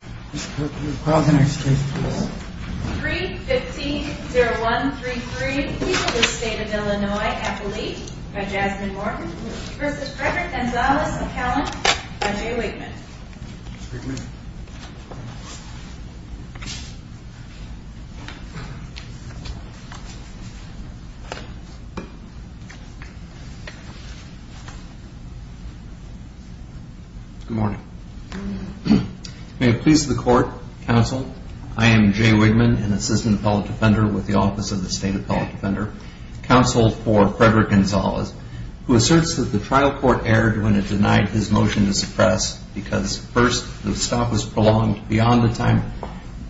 315-0133, People of the State of Illinois, Appalachia, by Jasmine Morgan, v. Frederick Gonzalez of Cowling, by Jay Wigman May it please the Court, Counsel, I am Jay Wigman, an Assistant Appellate Defender with the Office of the State Appellate Defender, Counsel for Frederick Gonzalez, who asserts that the trial court erred when it denied his motion to suppress because, first, the stop was prolonged beyond the time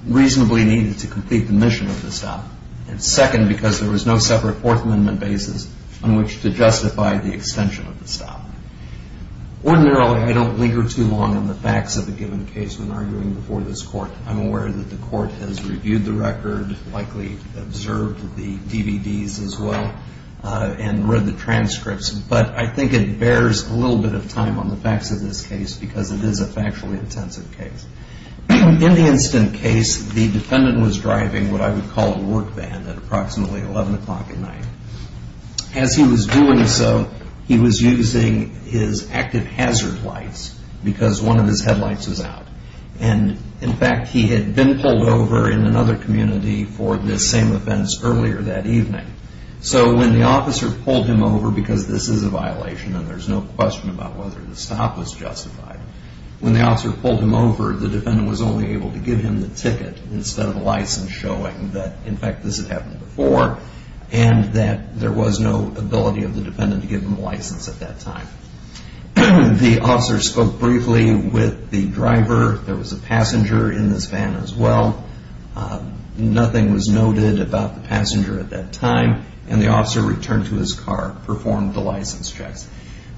reasonably needed to complete the mission of the stop, and second, because there was no separate Fourth Amendment basis on which to justify the extension of the stop. Ordinarily, I don't linger too long on the facts of a given case when arguing before this Court. I'm aware that the Court has reviewed the record, likely observed the DVDs as well, and read the transcripts, but I think it bears a little bit of time on the facts of this case because it is a factually intensive case. In the incident case, the defendant was driving what I would call a work van at approximately 11 o'clock at night. As he was doing so, he was using his active hazard lights because one of his headlights was out. And, in fact, he had been pulled over in another community for this same offense earlier that evening. So when the officer pulled him over, because this is a violation and there's no question about whether the stop was justified, when the officer pulled him over, the defendant was only able to give him the ticket instead of a license showing that, in fact, this had happened before and that there was no ability of the defendant to give him a license at that time. The officer spoke briefly with the driver. There was a passenger in this van as well. Nothing was noted about the passenger at that time. And the officer returned to his car, performed the license checks.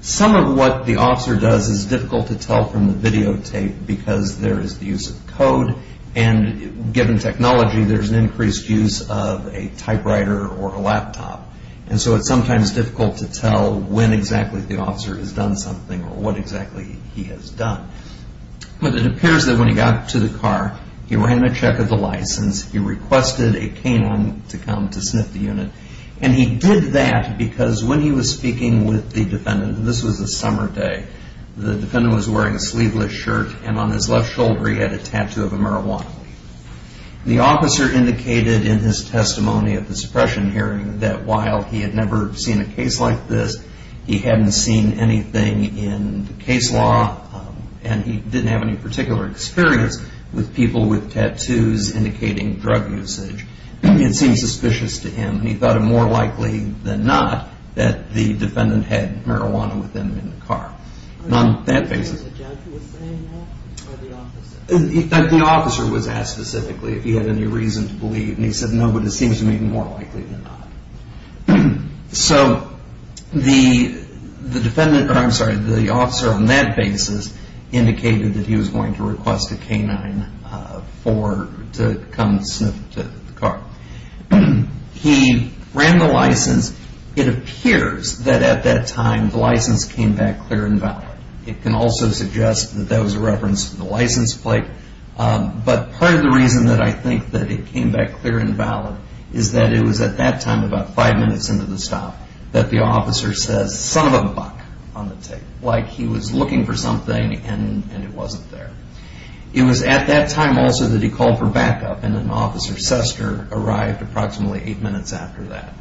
Some of what the officer does is difficult to tell from the videotape because there is the use of code and, given technology, there's an increased use of a typewriter or a laptop. And so it's sometimes difficult to tell when exactly the officer has done something or what exactly he has done. But it appears that when he got to the car, he ran a check of the license. He requested a canine to come to sniff the unit. And he did that because when he was speaking with the defendant, and this was a summer day, the defendant was wearing a sleeveless shirt and on his left shoulder he had a tattoo of a marijuana. The officer indicated in his testimony at the suppression hearing that while he had never seen a case like this, he hadn't seen anything in the case law, and he didn't have any particular experience with people with tattoos indicating drug usage. It seemed suspicious to him. He thought it more likely than not that the defendant had marijuana with him in the car. The officer was asked specifically if he had any reason to believe, and he said no, but it seems to me more likely than not. So the officer on that basis indicated that he was going to request a canine to come sniff the car. He ran the license. It appears that at that time the license came back clear and valid. It can also suggest that that was a reference to the license plate. But part of the reason that I think that it came back clear and valid is that it was at that time, about five minutes into the stop, that the officer says, son of a buck on the tape. Like he was looking for something and it wasn't there. It was at that time also that he called for backup, and then Officer Sester arrived approximately eight minutes after that.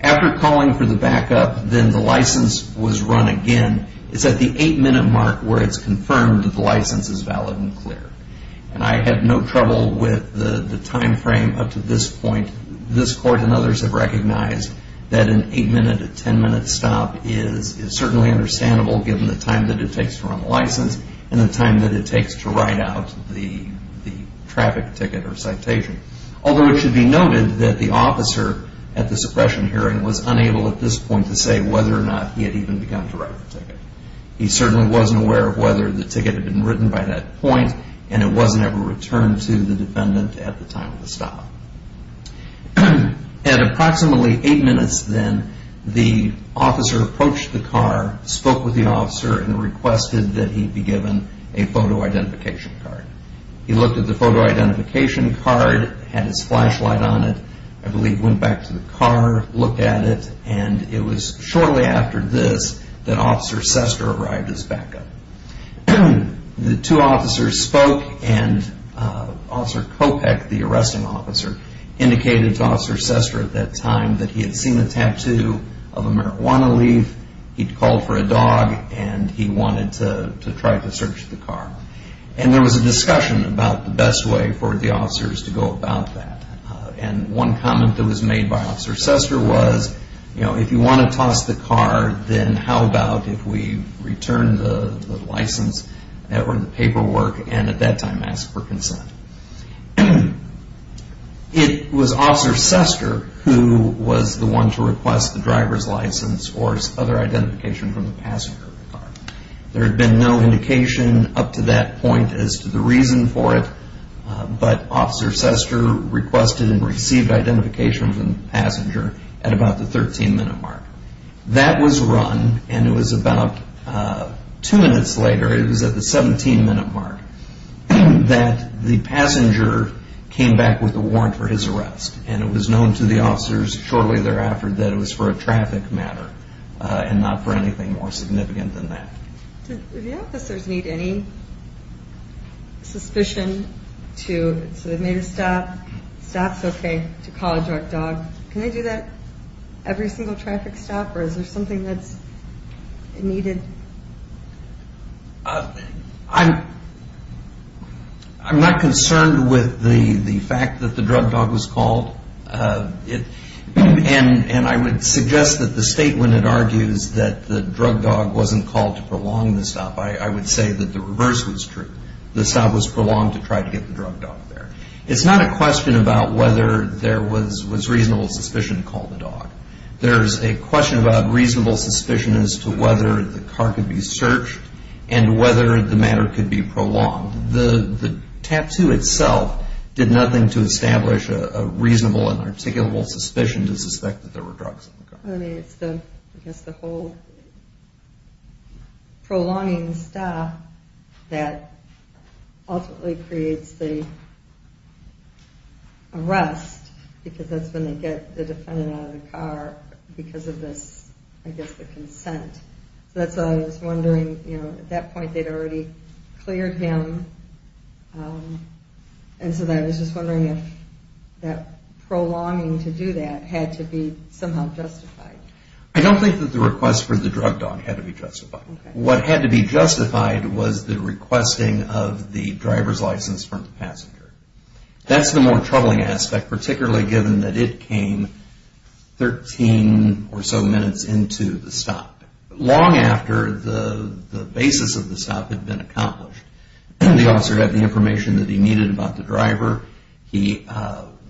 After calling for the backup, then the license was run again. It's at the eight minute mark where it's confirmed that the license is valid and clear. And I had no trouble with the time frame up to this point. This Court and others have recognized that an eight minute to ten minute stop is certainly understandable given the time that it takes to run the license and the time that it takes to write out the traffic ticket or citation. Although it should be noted that the officer at the suppression hearing was unable at this point to say whether or not he had even begun to write the ticket. He certainly wasn't aware of whether the ticket had been written by that point and it wasn't ever returned to the defendant at the time of the stop. At approximately eight minutes then, the officer approached the car, spoke with the officer, and requested that he be given a photo identification card. He looked at the photo identification card, had his flashlight on it, I believe went back to the car, looked at it, and it was shortly after this that Officer Sester arrived as backup. The two officers spoke and Officer Kopech, the arresting officer, indicated to Officer Sester at that time that he had seen a tattoo of a marijuana leaf, he'd called for a dog, and he wanted to try to search the car. And there was a discussion about the best way for the officers to go about that. And one comment that was made by Officer Sester was, you know, if you want to toss the car, then how about if we return the license or the paperwork and at that time ask for consent. It was Officer Sester who was the one to request the driver's license or other identification from the passenger of the car. There had been no indication up to that point as to the reason for it, but Officer Sester requested and received identification from the passenger at about the 13 minute mark. That was run and it was about two minutes later, it was at the 17 minute mark, that the passenger came back with a warrant for his arrest. And it was known to the officers shortly thereafter that it was for a traffic matter and not for anything more significant than that. Do the officers need any suspicion to submit a stop, stop's okay, to call a drug dog? Can they do that every single traffic stop or is there something that's needed? I'm not concerned with the fact that the drug dog was called. And I would suggest that the state, when it argues that the drug dog wasn't called to prolong the stop, I would say that the reverse was true. The stop was prolonged to try to get the drug dog there. It's not a question about whether there was reasonable suspicion to call the dog. There's a question about reasonable suspicion as to whether the car could be searched and whether the matter could be prolonged. The tattoo itself did nothing to establish a reasonable and articulable suspicion to suspect that there were drugs in the car. It's the whole prolonging stop that ultimately creates the arrest because that's when they get the defendant out of the car because of this, I guess, the consent. So that's why I was wondering, you know, at that point they'd already cleared him and so I was just wondering if that prolonging to do that had to be somehow justified. I don't think that the request for the drug dog had to be justified. What had to be justified was the requesting of the driver's license from the passenger. That's the more troubling aspect, particularly given that it came 13 or so minutes into the stop, long after the basis of the stop had been accomplished. The officer had the information that he needed about the driver. He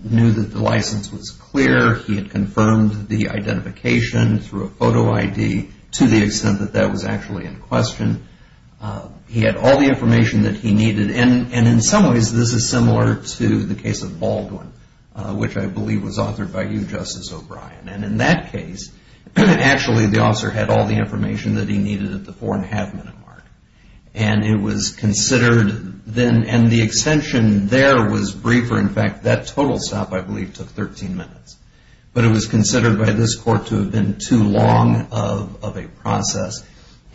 knew that the license was clear. He had confirmed the identification through a photo ID to the extent that that was actually in question. He had all the information that he needed and in some ways this is similar to the case of Baldwin, which I believe was authored by you, Justice O'Brien. And in that case, actually the officer had all the information that he needed at the four and a half minute mark. And it was considered, and the extension there was briefer. In fact, that total stop I believe took 13 minutes. But it was considered by this court to have been too long of a process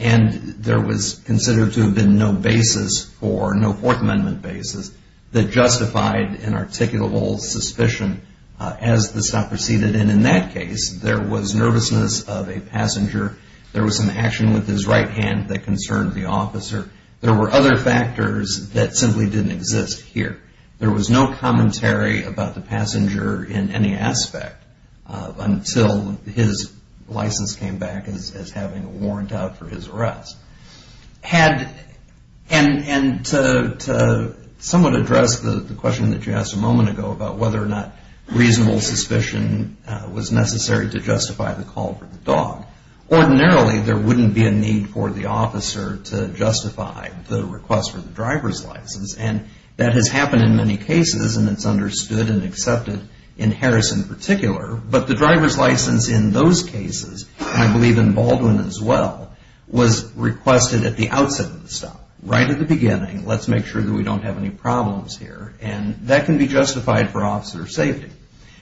and there was considered to have been no basis for, no Fourth Amendment basis that justified an articulable suspicion as the stop proceeded. And in that case, there was nervousness of a passenger. There was some action with his right hand that concerned the officer. There were other factors that simply didn't exist here. There was no commentary about the passenger in any aspect until his license came back as having a warrant out for his arrest. And to somewhat address the question that you asked a moment ago about whether or not reasonable suspicion was necessary to justify the call for the dog, ordinarily there wouldn't be a need for the officer to justify the request for the driver's license. And that has happened in many cases and it's understood and accepted in Harris in particular. But the driver's license in those cases, and I believe in Baldwin as well, was requested at the outset of the stop. Right at the beginning, let's make sure that we don't have any problems here. And that can be justified for officer safety.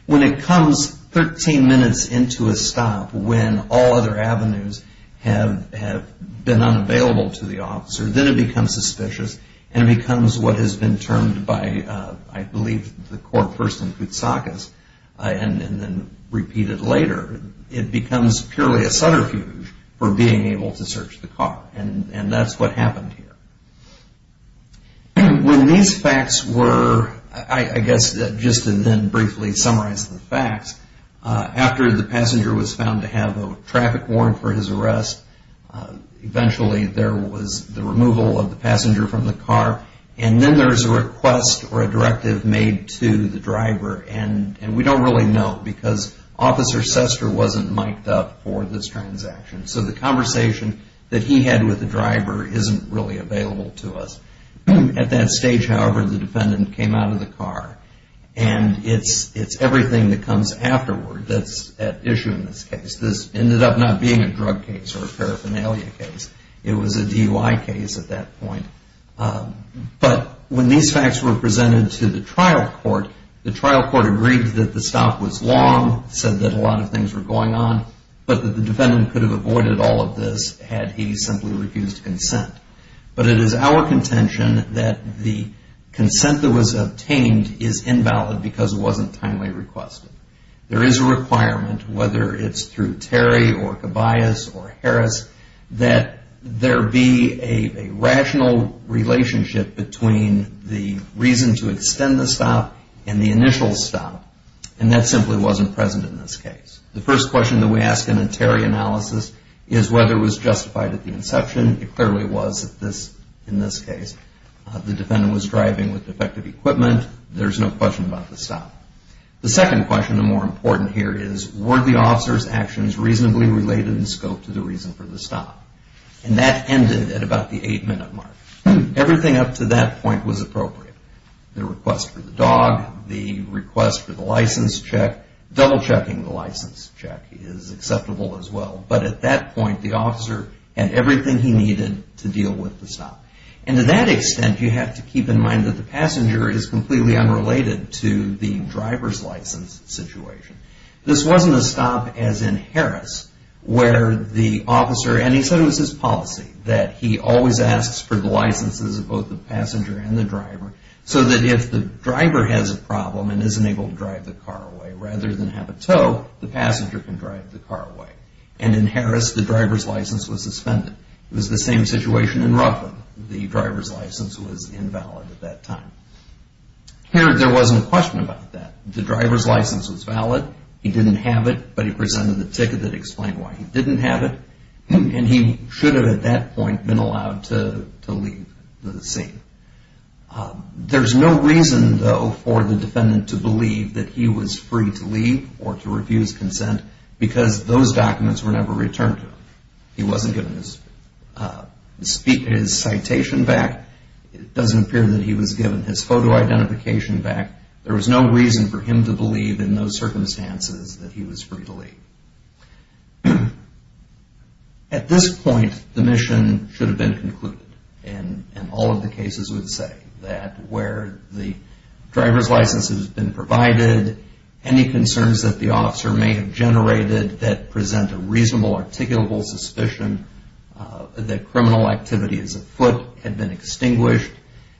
When it comes 13 minutes into a stop when all other avenues have been unavailable to the officer, then it becomes suspicious and it becomes what has been termed by, I believe, the court person Koutsakis and then repeated later, it becomes purely a subterfuge for being able to search the car. And that's what happened here. When these facts were, I guess just to then briefly summarize the facts, after the passenger was found to have a traffic warrant for his arrest, eventually there was the removal of the passenger from the car. And then there's a request or a directive made to the driver and we don't really know because Officer Sester wasn't mic'd up for this transaction. So the conversation that he had with the driver isn't really available to us. At that stage, however, the defendant came out of the car. And it's everything that comes afterward that's at issue in this case. This ended up not being a drug case or a paraphernalia case. It was a DUI case at that point. But when these facts were presented to the trial court, the trial court agreed that the stop was long, said that a lot of things were going on, but that the defendant could have avoided all of this had he simply refused consent. But it is our contention that the consent that was obtained is invalid because it wasn't timely requested. There is a requirement, whether it's through Terry or Cabayas or Harris, that there be a rational relationship between the reason to extend the stop and the initial stop. And that simply wasn't present in this case. The first question that we ask in a Terry analysis is whether it was justified at the inception. It clearly was in this case. The defendant was driving with defective equipment. There's no question about the stop. The second question, the more important here, is were the officer's actions reasonably related in scope to the reason for the stop? And that ended at about the eight-minute mark. Everything up to that point was appropriate. The request for the dog, the request for the license check, double-checking the license check is acceptable as well. But at that point, the officer had everything he needed to deal with the stop. And to that extent, you have to keep in mind that the passenger is completely unrelated to the driver's license situation. This wasn't a stop as in Harris where the officer, and he said it was his policy, that he always asks for the licenses of both the passenger and the driver so that if the driver has a problem and isn't able to drive the car away, rather than have a tow, the passenger can drive the car away. And in Harris, the driver's license was suspended. It was the same situation in Ruffin. The driver's license was invalid at that time. Here, there wasn't a question about that. The driver's license was valid. He didn't have it, but he presented the ticket that explained why he didn't have it. And he should have at that point been allowed to leave the scene. There's no reason, though, for the defendant to believe that he was free to leave or to refuse consent because those documents were never returned to him. He wasn't given his citation back. It doesn't appear that he was given his photo identification back. There was no reason for him to believe in those circumstances that he was free to leave. At this point, the mission should have been concluded. And all of the cases would say that where the driver's license has been provided, any concerns that the officer may have generated that present a reasonable, articulable suspicion that criminal activity as a foot had been extinguished.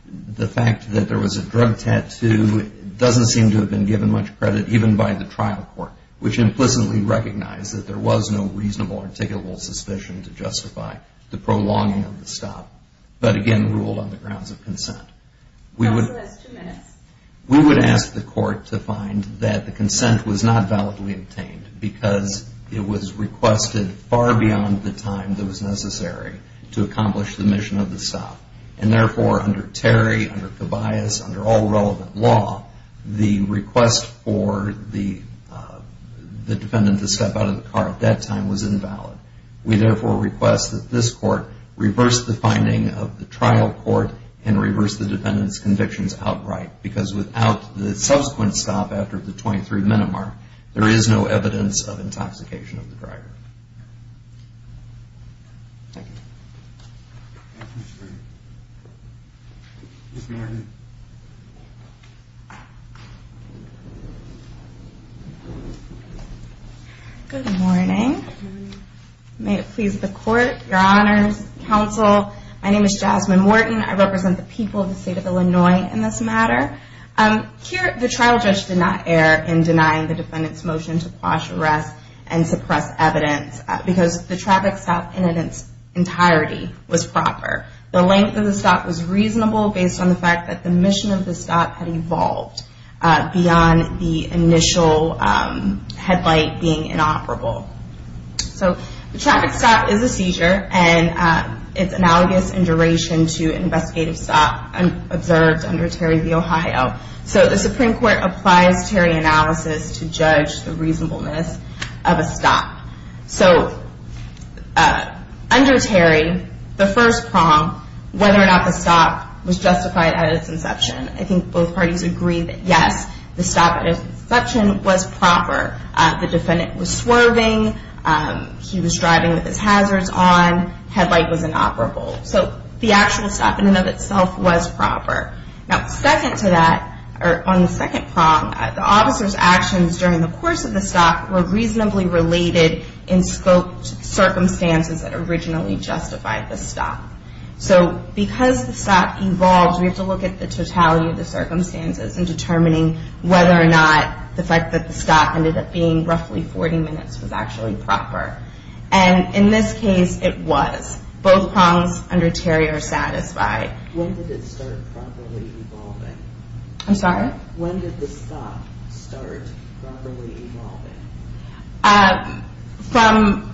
The fact that there was a drug tattoo doesn't seem to have been given much credit, even by the trial court, which implicitly recognized that there was no reasonable, articulable suspicion to justify the prolonging of the stop, but again, ruled on the grounds of consent. We would ask the court to find that the consent was not validly obtained because it was requested far beyond the time that was necessary to accomplish the mission of the stop. And therefore, under Terry, under Tobias, under all relevant law, the request for the defendant to step out of the car at that time was invalid. We therefore request that this court reverse the finding of the trial court and reverse the defendant's convictions outright because without the subsequent stop after the 23 minute mark, there is no evidence of intoxication of the driver. Good morning. May it please the court, your honors, counsel, my name is Jasmine Wharton. I represent the people of the state of Illinois in this matter. Here, the trial judge did not err in denying the defendant's motion to quash arrest and suppress evidence because the traffic stop in its entirety was proper. The length of the stop was reasonable based on the fact that the mission of the stop had evolved beyond the initial headlight being inoperable. So the traffic stop is a seizure and it's analogous in duration to an investigative stop observed under Terry v. Ohio. So the Supreme Court applies Terry analysis to judge the reasonableness of a stop. So under Terry, the first prong, whether or not the stop was justified at its inception, I think both parties agree that yes, the stop at its inception was proper. The defendant was swerving, he was driving with his hazards on, headlight was inoperable. So the actual stop in and of itself was proper. Now second to that, or on the second prong, the officer's actions during the course of the stop were reasonably related in scope to circumstances that originally justified the stop. So because the stop evolved, we have to look at the totality of the circumstances in determining whether or not the fact that the stop ended up being roughly 40 minutes was actually proper. And in this case, it was. Both prongs under Terry are satisfied. When did it start properly evolving? I'm sorry? When did the stop start properly evolving?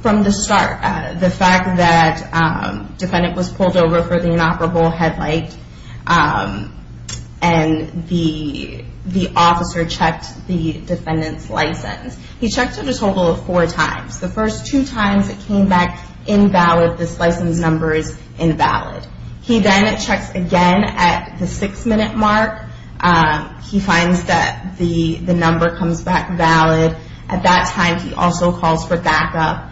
From the start. The fact that the defendant was pulled over for the inoperable headlight and the officer checked the defendant's license. He checked it a total of four times. The first two times it came back invalid, this license number is invalid. He then checks again at the six minute mark. He finds that the number comes back valid. At that time he also calls for backup.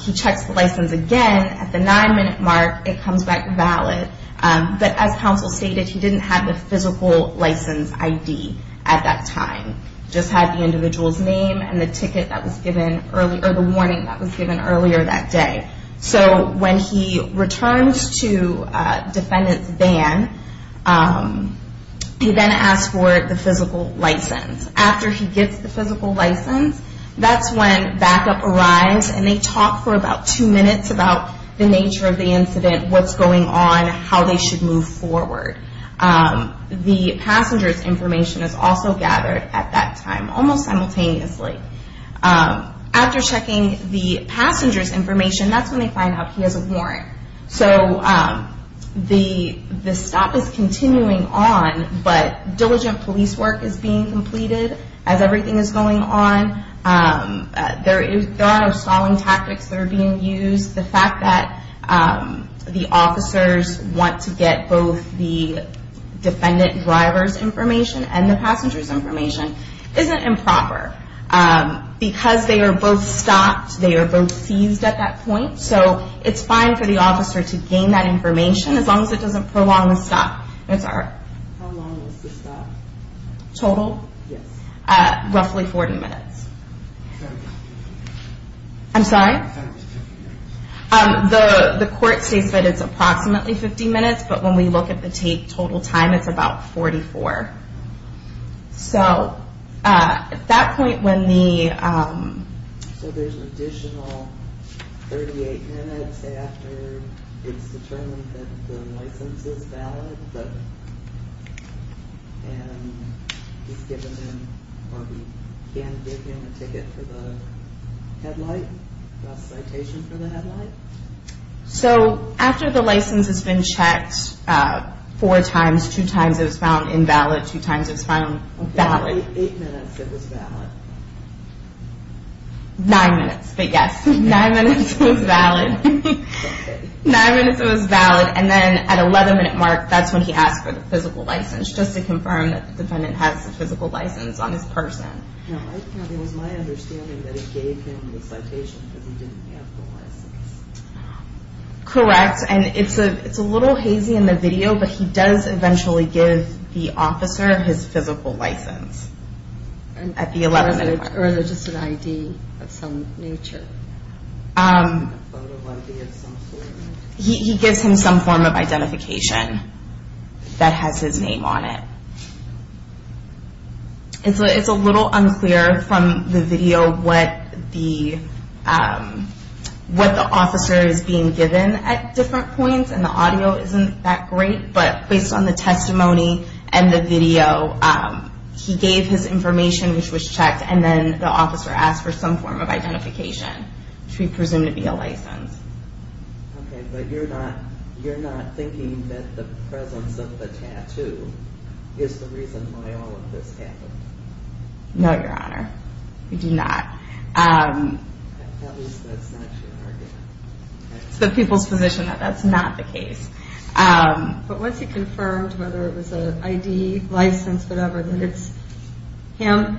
He checks the license again at the nine minute mark, it comes back valid. But as counsel stated, he didn't have the physical license ID at that time. He just had the individual's name and the ticket that was given earlier, or the warning that was given earlier that day. So when he returns to defendant's van, he then asks for the physical license. After he gets the physical license, that's when backup arrives and they talk for about two minutes about the nature of the incident, what's going on, how they should move forward. The passenger's information is also gathered at that time, almost simultaneously. After checking the passenger's information, that's when they find out he has a warrant. So the stop is continuing on, but diligent police work is being completed as everything is going on. There are no stalling tactics that are being used. The fact that the officers want to get both the defendant driver's information and the passenger's information isn't improper. Because they are both stopped, they are both seized at that point, so it's fine for the officer to gain that information as long as it doesn't prolong the stop. How long was the stop? Total? Yes. Roughly 40 minutes. I'm sorry? I thought it was 50 minutes. So after the license has been checked four times, two times it was found invalid, two times it was found valid. Eight minutes it was valid. Nine minutes, but yes, nine minutes it was valid. Nine minutes it was valid, and then at 11 minute mark, that's when he asked for the physical license, just to confirm that the defendant has a physical license on his person. It was my understanding that he gave him the citation because he didn't have the license. Correct, and it's a little hazy in the video, but he does eventually give the officer his physical license at the 11 minute mark. Or just an ID of some nature? He gives him some form of identification that has his name on it. It's a little unclear from the video what the officer is being given at different points, and the audio isn't that great, but based on the testimony and the video, he gave his information, which was checked, and then the officer asked for some form of identification, which we presume to be a license. Okay, but you're not thinking that the presence of the tattoo is the reason why all of this happened? No, Your Honor, we do not. At least that's not your argument. It's the people's position that that's not the case. But once he confirmed whether it was an ID, license, whatever, that it's him,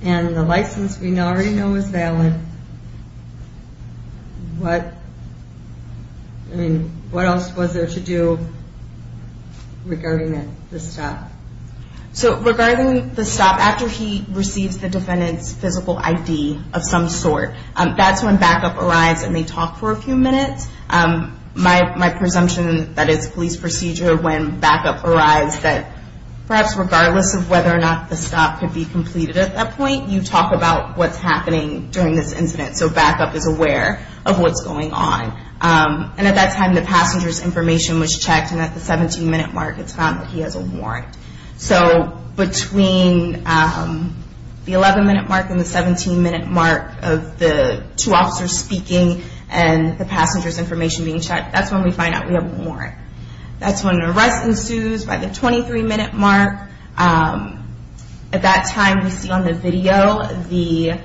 and the license we already know is valid, what else was there to do regarding the stop? So regarding the stop, after he receives the defendant's physical ID of some sort, that's when backup arrives and they talk for a few minutes. My presumption that it's police procedure when backup arrives that perhaps regardless of whether or not the stop could be completed at that point, you talk about what's happening during this incident, so backup is aware of what's going on. And at that time, the passenger's information was checked, and at the 17-minute mark, it's found that he has a warrant. So between the 11-minute mark and the 17-minute mark of the two officers speaking and the passenger's information being checked, that's when we find out we have a warrant. That's when an arrest ensues by the 23-minute mark. At that time, we see on the video the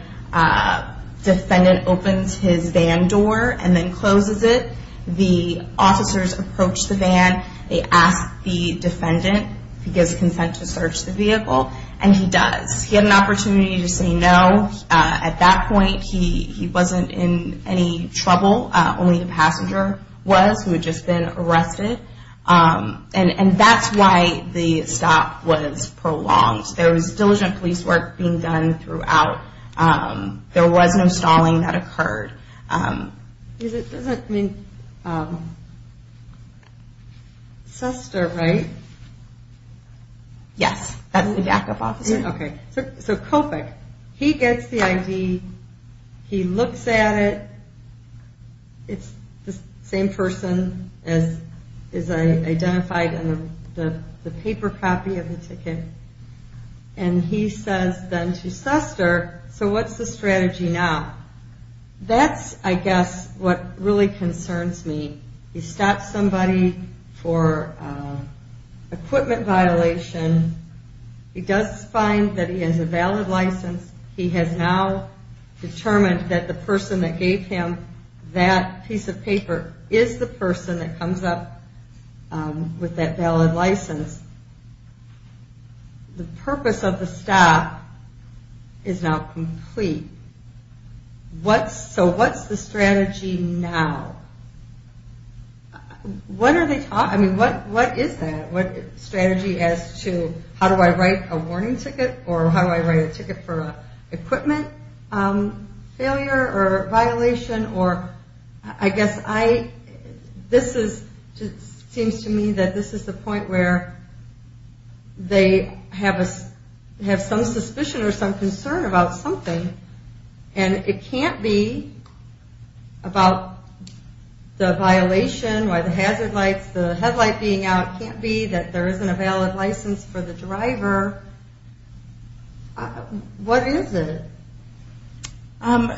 defendant opens his van door and then closes it. The officers approach the van, they ask the defendant if he gives consent to search the vehicle, and he does. He had an opportunity to say no. At that point, he wasn't in any trouble. Only the passenger was, who had just been arrested. And that's why the stop was prolonged. There was diligent police work being done throughout. There was no stalling that occurred. Because it doesn't mean... Suster, right? Yes, that's the backup officer. Okay, so Kopik, he gets the ID, he looks at it, it's the same person as is identified in the paper copy of the ticket, and he says then to Suster, so what's the strategy now? That's, I guess, what really concerns me. He stops somebody for equipment violation. He does find that he has a valid license. He has now determined that the person that gave him that piece of paper is the person that comes up with that valid license. The purpose of the stop is now complete. So what's the strategy now? What are they talking... I mean, what is that? What strategy as to how do I write a warning ticket or how do I write a ticket for equipment failure or violation? I guess this seems to me that this is the point where they have some suspicion or some concern about something, and it can't be about the violation, why the hazard lights, the headlight being out. It can't be that there isn't a valid license for the driver. What is it?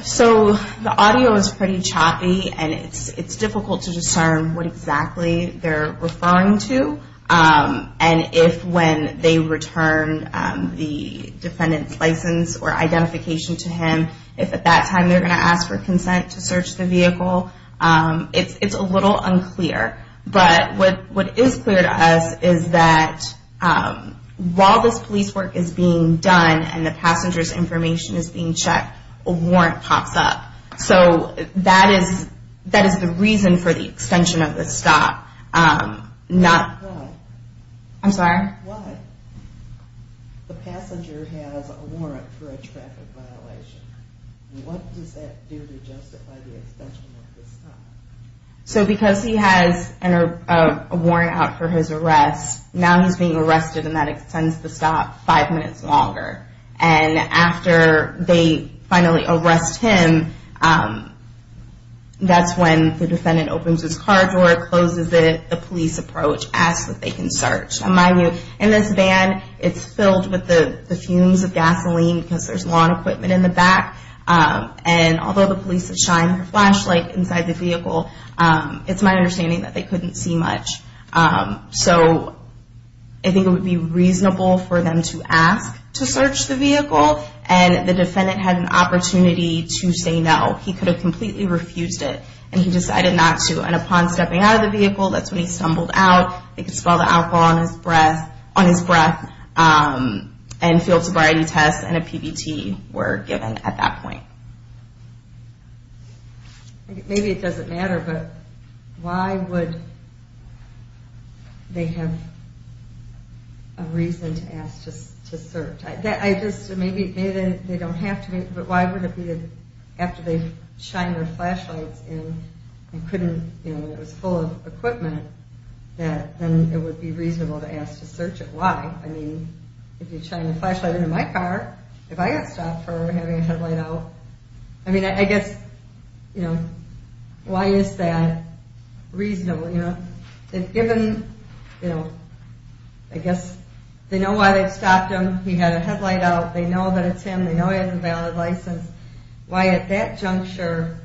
So the audio is pretty choppy, and it's difficult to discern what exactly they're referring to, and if when they return the defendant's license or identification to him, if at that time they're going to ask for consent to search the vehicle. It's a little unclear, but what is clear to us is that while this police work is being done and the passenger's information is being checked, a warrant pops up. So that is the reason for the extension of the stop. Why? I'm sorry? Why? The passenger has a warrant for a traffic violation. What does that do to justify the extension of the stop? So because he has a warrant out for his arrest, now he's being arrested, and that extends the stop five minutes longer. And after they finally arrest him, that's when the defendant opens his car door, closes it, the police approach, asks that they can search. In this van, it's filled with the fumes of gasoline because there's lawn equipment in the back, and although the police have shined their flashlight inside the vehicle, it's my understanding that they couldn't see much. So I think it would be reasonable for them to ask to search the vehicle, and the defendant had an opportunity to say no. He could have completely refused it, and he decided not to. And upon stepping out of the vehicle, that's when he stumbled out. They could smell the alcohol on his breath, and field sobriety tests and a PBT were given at that point. Maybe it doesn't matter, but why would they have a reason to ask to search? Maybe they don't have to, but why would it be that after they've shined their flashlights in, and it was full of equipment, that then it would be reasonable to ask to search it? Why? I mean, if you shine a flashlight into my car, if I got stopped for having a headlight out, I mean, I guess, you know, why is that reasonable? Given, you know, I guess they know why they've stopped him. He had a headlight out. They know that it's him. They know he has a valid license. Why at that juncture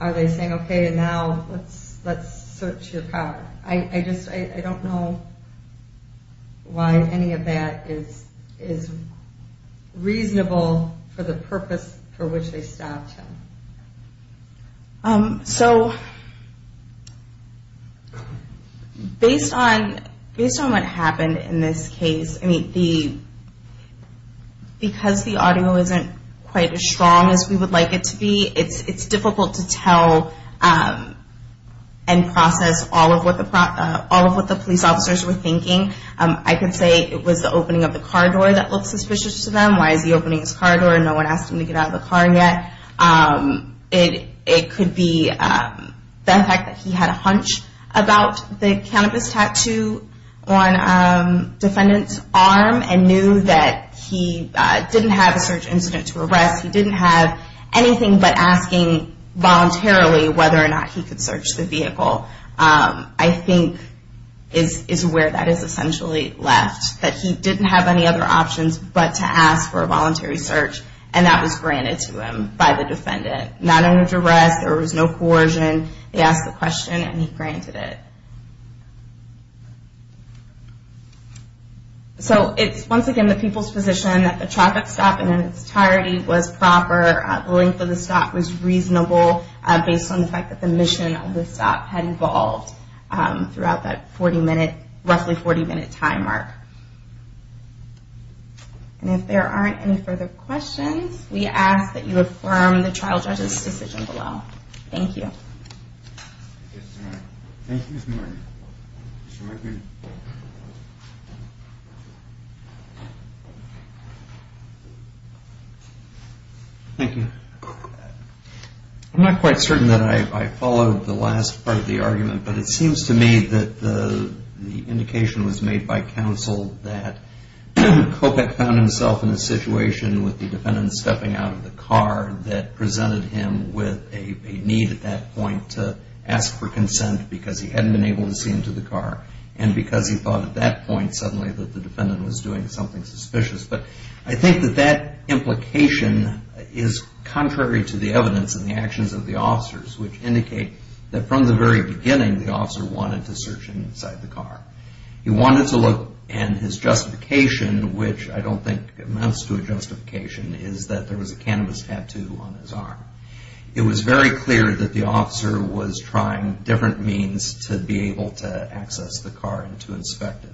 are they saying, okay, and now let's search your car? I just, I don't know why any of that is reasonable for the purpose for which they stopped him. So, based on what happened in this case, I mean, because the audio isn't quite as strong as we would like it to be, it's difficult to tell and process all of what the police officers were thinking. I could say it was the opening of the car door that looked suspicious to them. Why is he opening his car door and no one asked him to get out of the car yet? It could be the fact that he had a hunch about the cannabis tattoo on defendant's arm and knew that he didn't have a search incident to arrest. He didn't have anything but asking voluntarily whether or not he could search the vehicle. I think is where that is essentially left, that he didn't have any other options but to ask for a voluntary search and that was granted to him by the defendant. Not under duress, there was no coercion. They asked the question and he granted it. So, it's once again the people's position that the traffic stop in its entirety was proper. The length of the stop was reasonable based on the fact that the mission of the stop had evolved throughout that roughly 40 minute time mark. If there aren't any further questions, we ask that you affirm the trial judge's decision below. Thank you. Thank you, Ms. Martin. Thank you. I'm not quite certain that I followed the last part of the argument but it seems to me that the indication was made by counsel that Kopech found himself in a situation with the defendant stepping out of the car that presented him with a need at that point to ask for consent because he hadn't been able to see into the car and because he thought at that point suddenly that the defendant was doing something suspicious. But I think that that implication is contrary to the evidence and the actions of the officers which indicate that from the very beginning the officer wanted to search inside the car. He wanted to look and his justification, which I don't think amounts to a justification, is that there was a cannabis tattoo on his arm. It was very clear that the officer was trying different means to be able to access the car and to inspect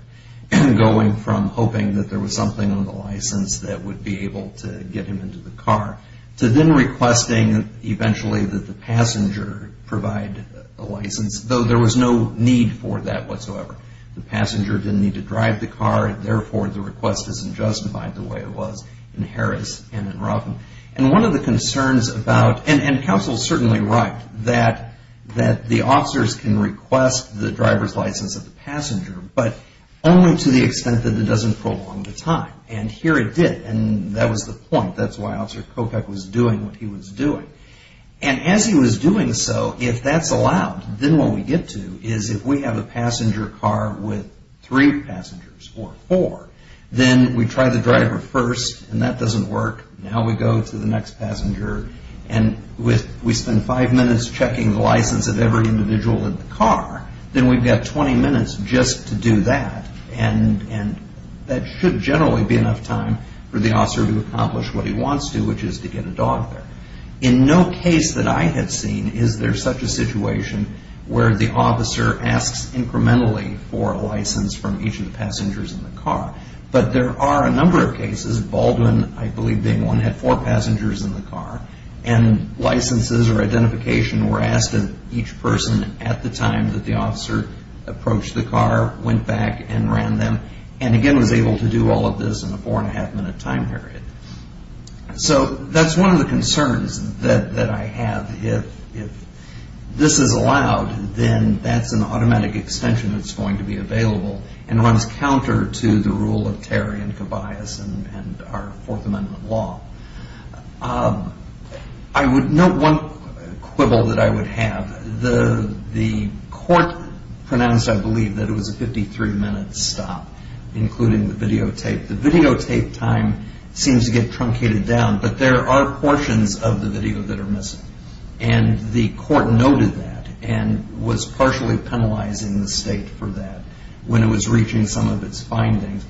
it, going from hoping that there was something on the license that would be able to get him into the car to then requesting eventually that the passenger provide a license, though there was no need for that whatsoever. The passenger didn't need to drive the car and therefore the request isn't justified the way it was in Harris and in Ruffin. And one of the concerns about, and counsel is certainly right, that the officers can request the driver's license of the passenger but only to the extent that it doesn't prolong the time. And here it did, and that was the point. That's why Officer Kopech was doing what he was doing. And as he was doing so, if that's allowed, then what we get to is if we have a passenger car with three passengers or four, then we try the driver first and that doesn't work. Now we go to the next passenger and we spend five minutes checking the license of every individual in the car, then we've got 20 minutes just to do that. And that should generally be enough time for the officer to accomplish what he wants to, which is to get a dog there. In no case that I had seen is there such a situation where the officer asks incrementally for a license from each of the passengers in the car. But there are a number of cases. Baldwin, I believe they won, had four passengers in the car. And licenses or identification were asked of each person at the time that the officer approached the car, went back and ran them, and again was able to do all of this in a four and a half minute time period. So that's one of the concerns that I have. If this is allowed, then that's an automatic extension that's going to be available and runs counter to the rule of Terry and Tobias and our Fourth Amendment law. I would note one quibble that I would have. The court pronounced, I believe, that it was a 53-minute stop, including the videotape. The videotape time seems to get truncated down, but there are portions of the video that are missing. And the court noted that and was partially penalizing the state for that. When it was reaching some of its findings,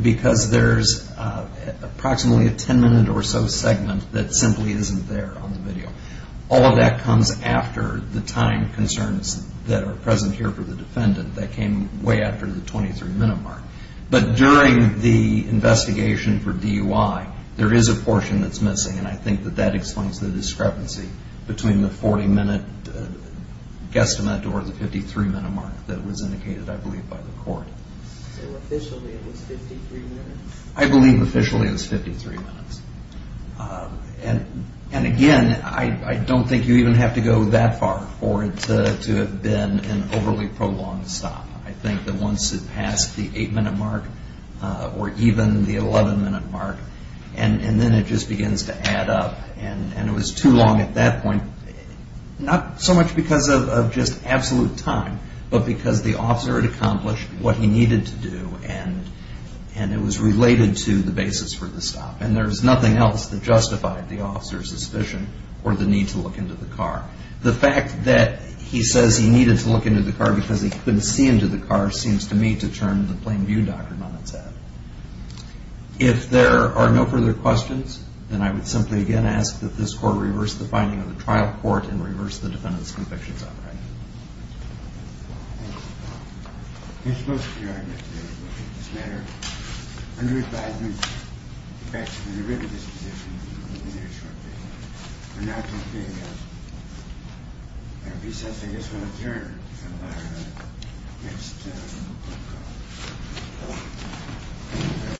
because there's approximately a 10-minute or so segment that simply isn't there on the video. All of that comes after the time concerns that are present here for the defendant that came way after the 23-minute mark. But during the investigation for DUI, there is a portion that's missing, and I think that that explains the discrepancy between the 40-minute guesstimate or the 53-minute mark that was indicated, I believe, by the court. So officially it was 53 minutes? I believe officially it was 53 minutes. And again, I don't think you even have to go that far for it to have been an overly prolonged stop. I think that once it passed the 8-minute mark or even the 11-minute mark, and then it just begins to add up, and it was too long at that point, not so much because of just absolute time, but because the officer had accomplished what he needed to do, and it was related to the basis for the stop. And there's nothing else that justified the officer's suspicion or the need to look into the car. The fact that he says he needed to look into the car because he couldn't see into the car seems to me to turn the plain view doctrine on its head. If there are no further questions, then I would simply again ask that this court reverse the finding of the trial court and reverse the defendant's convictions on the right. Thank you. I think most of your arguments today will take this matter under advisement. In fact, you could have written this position a little bit earlier shortly. But now it seems to me that there will be something that's going to turn. I don't know.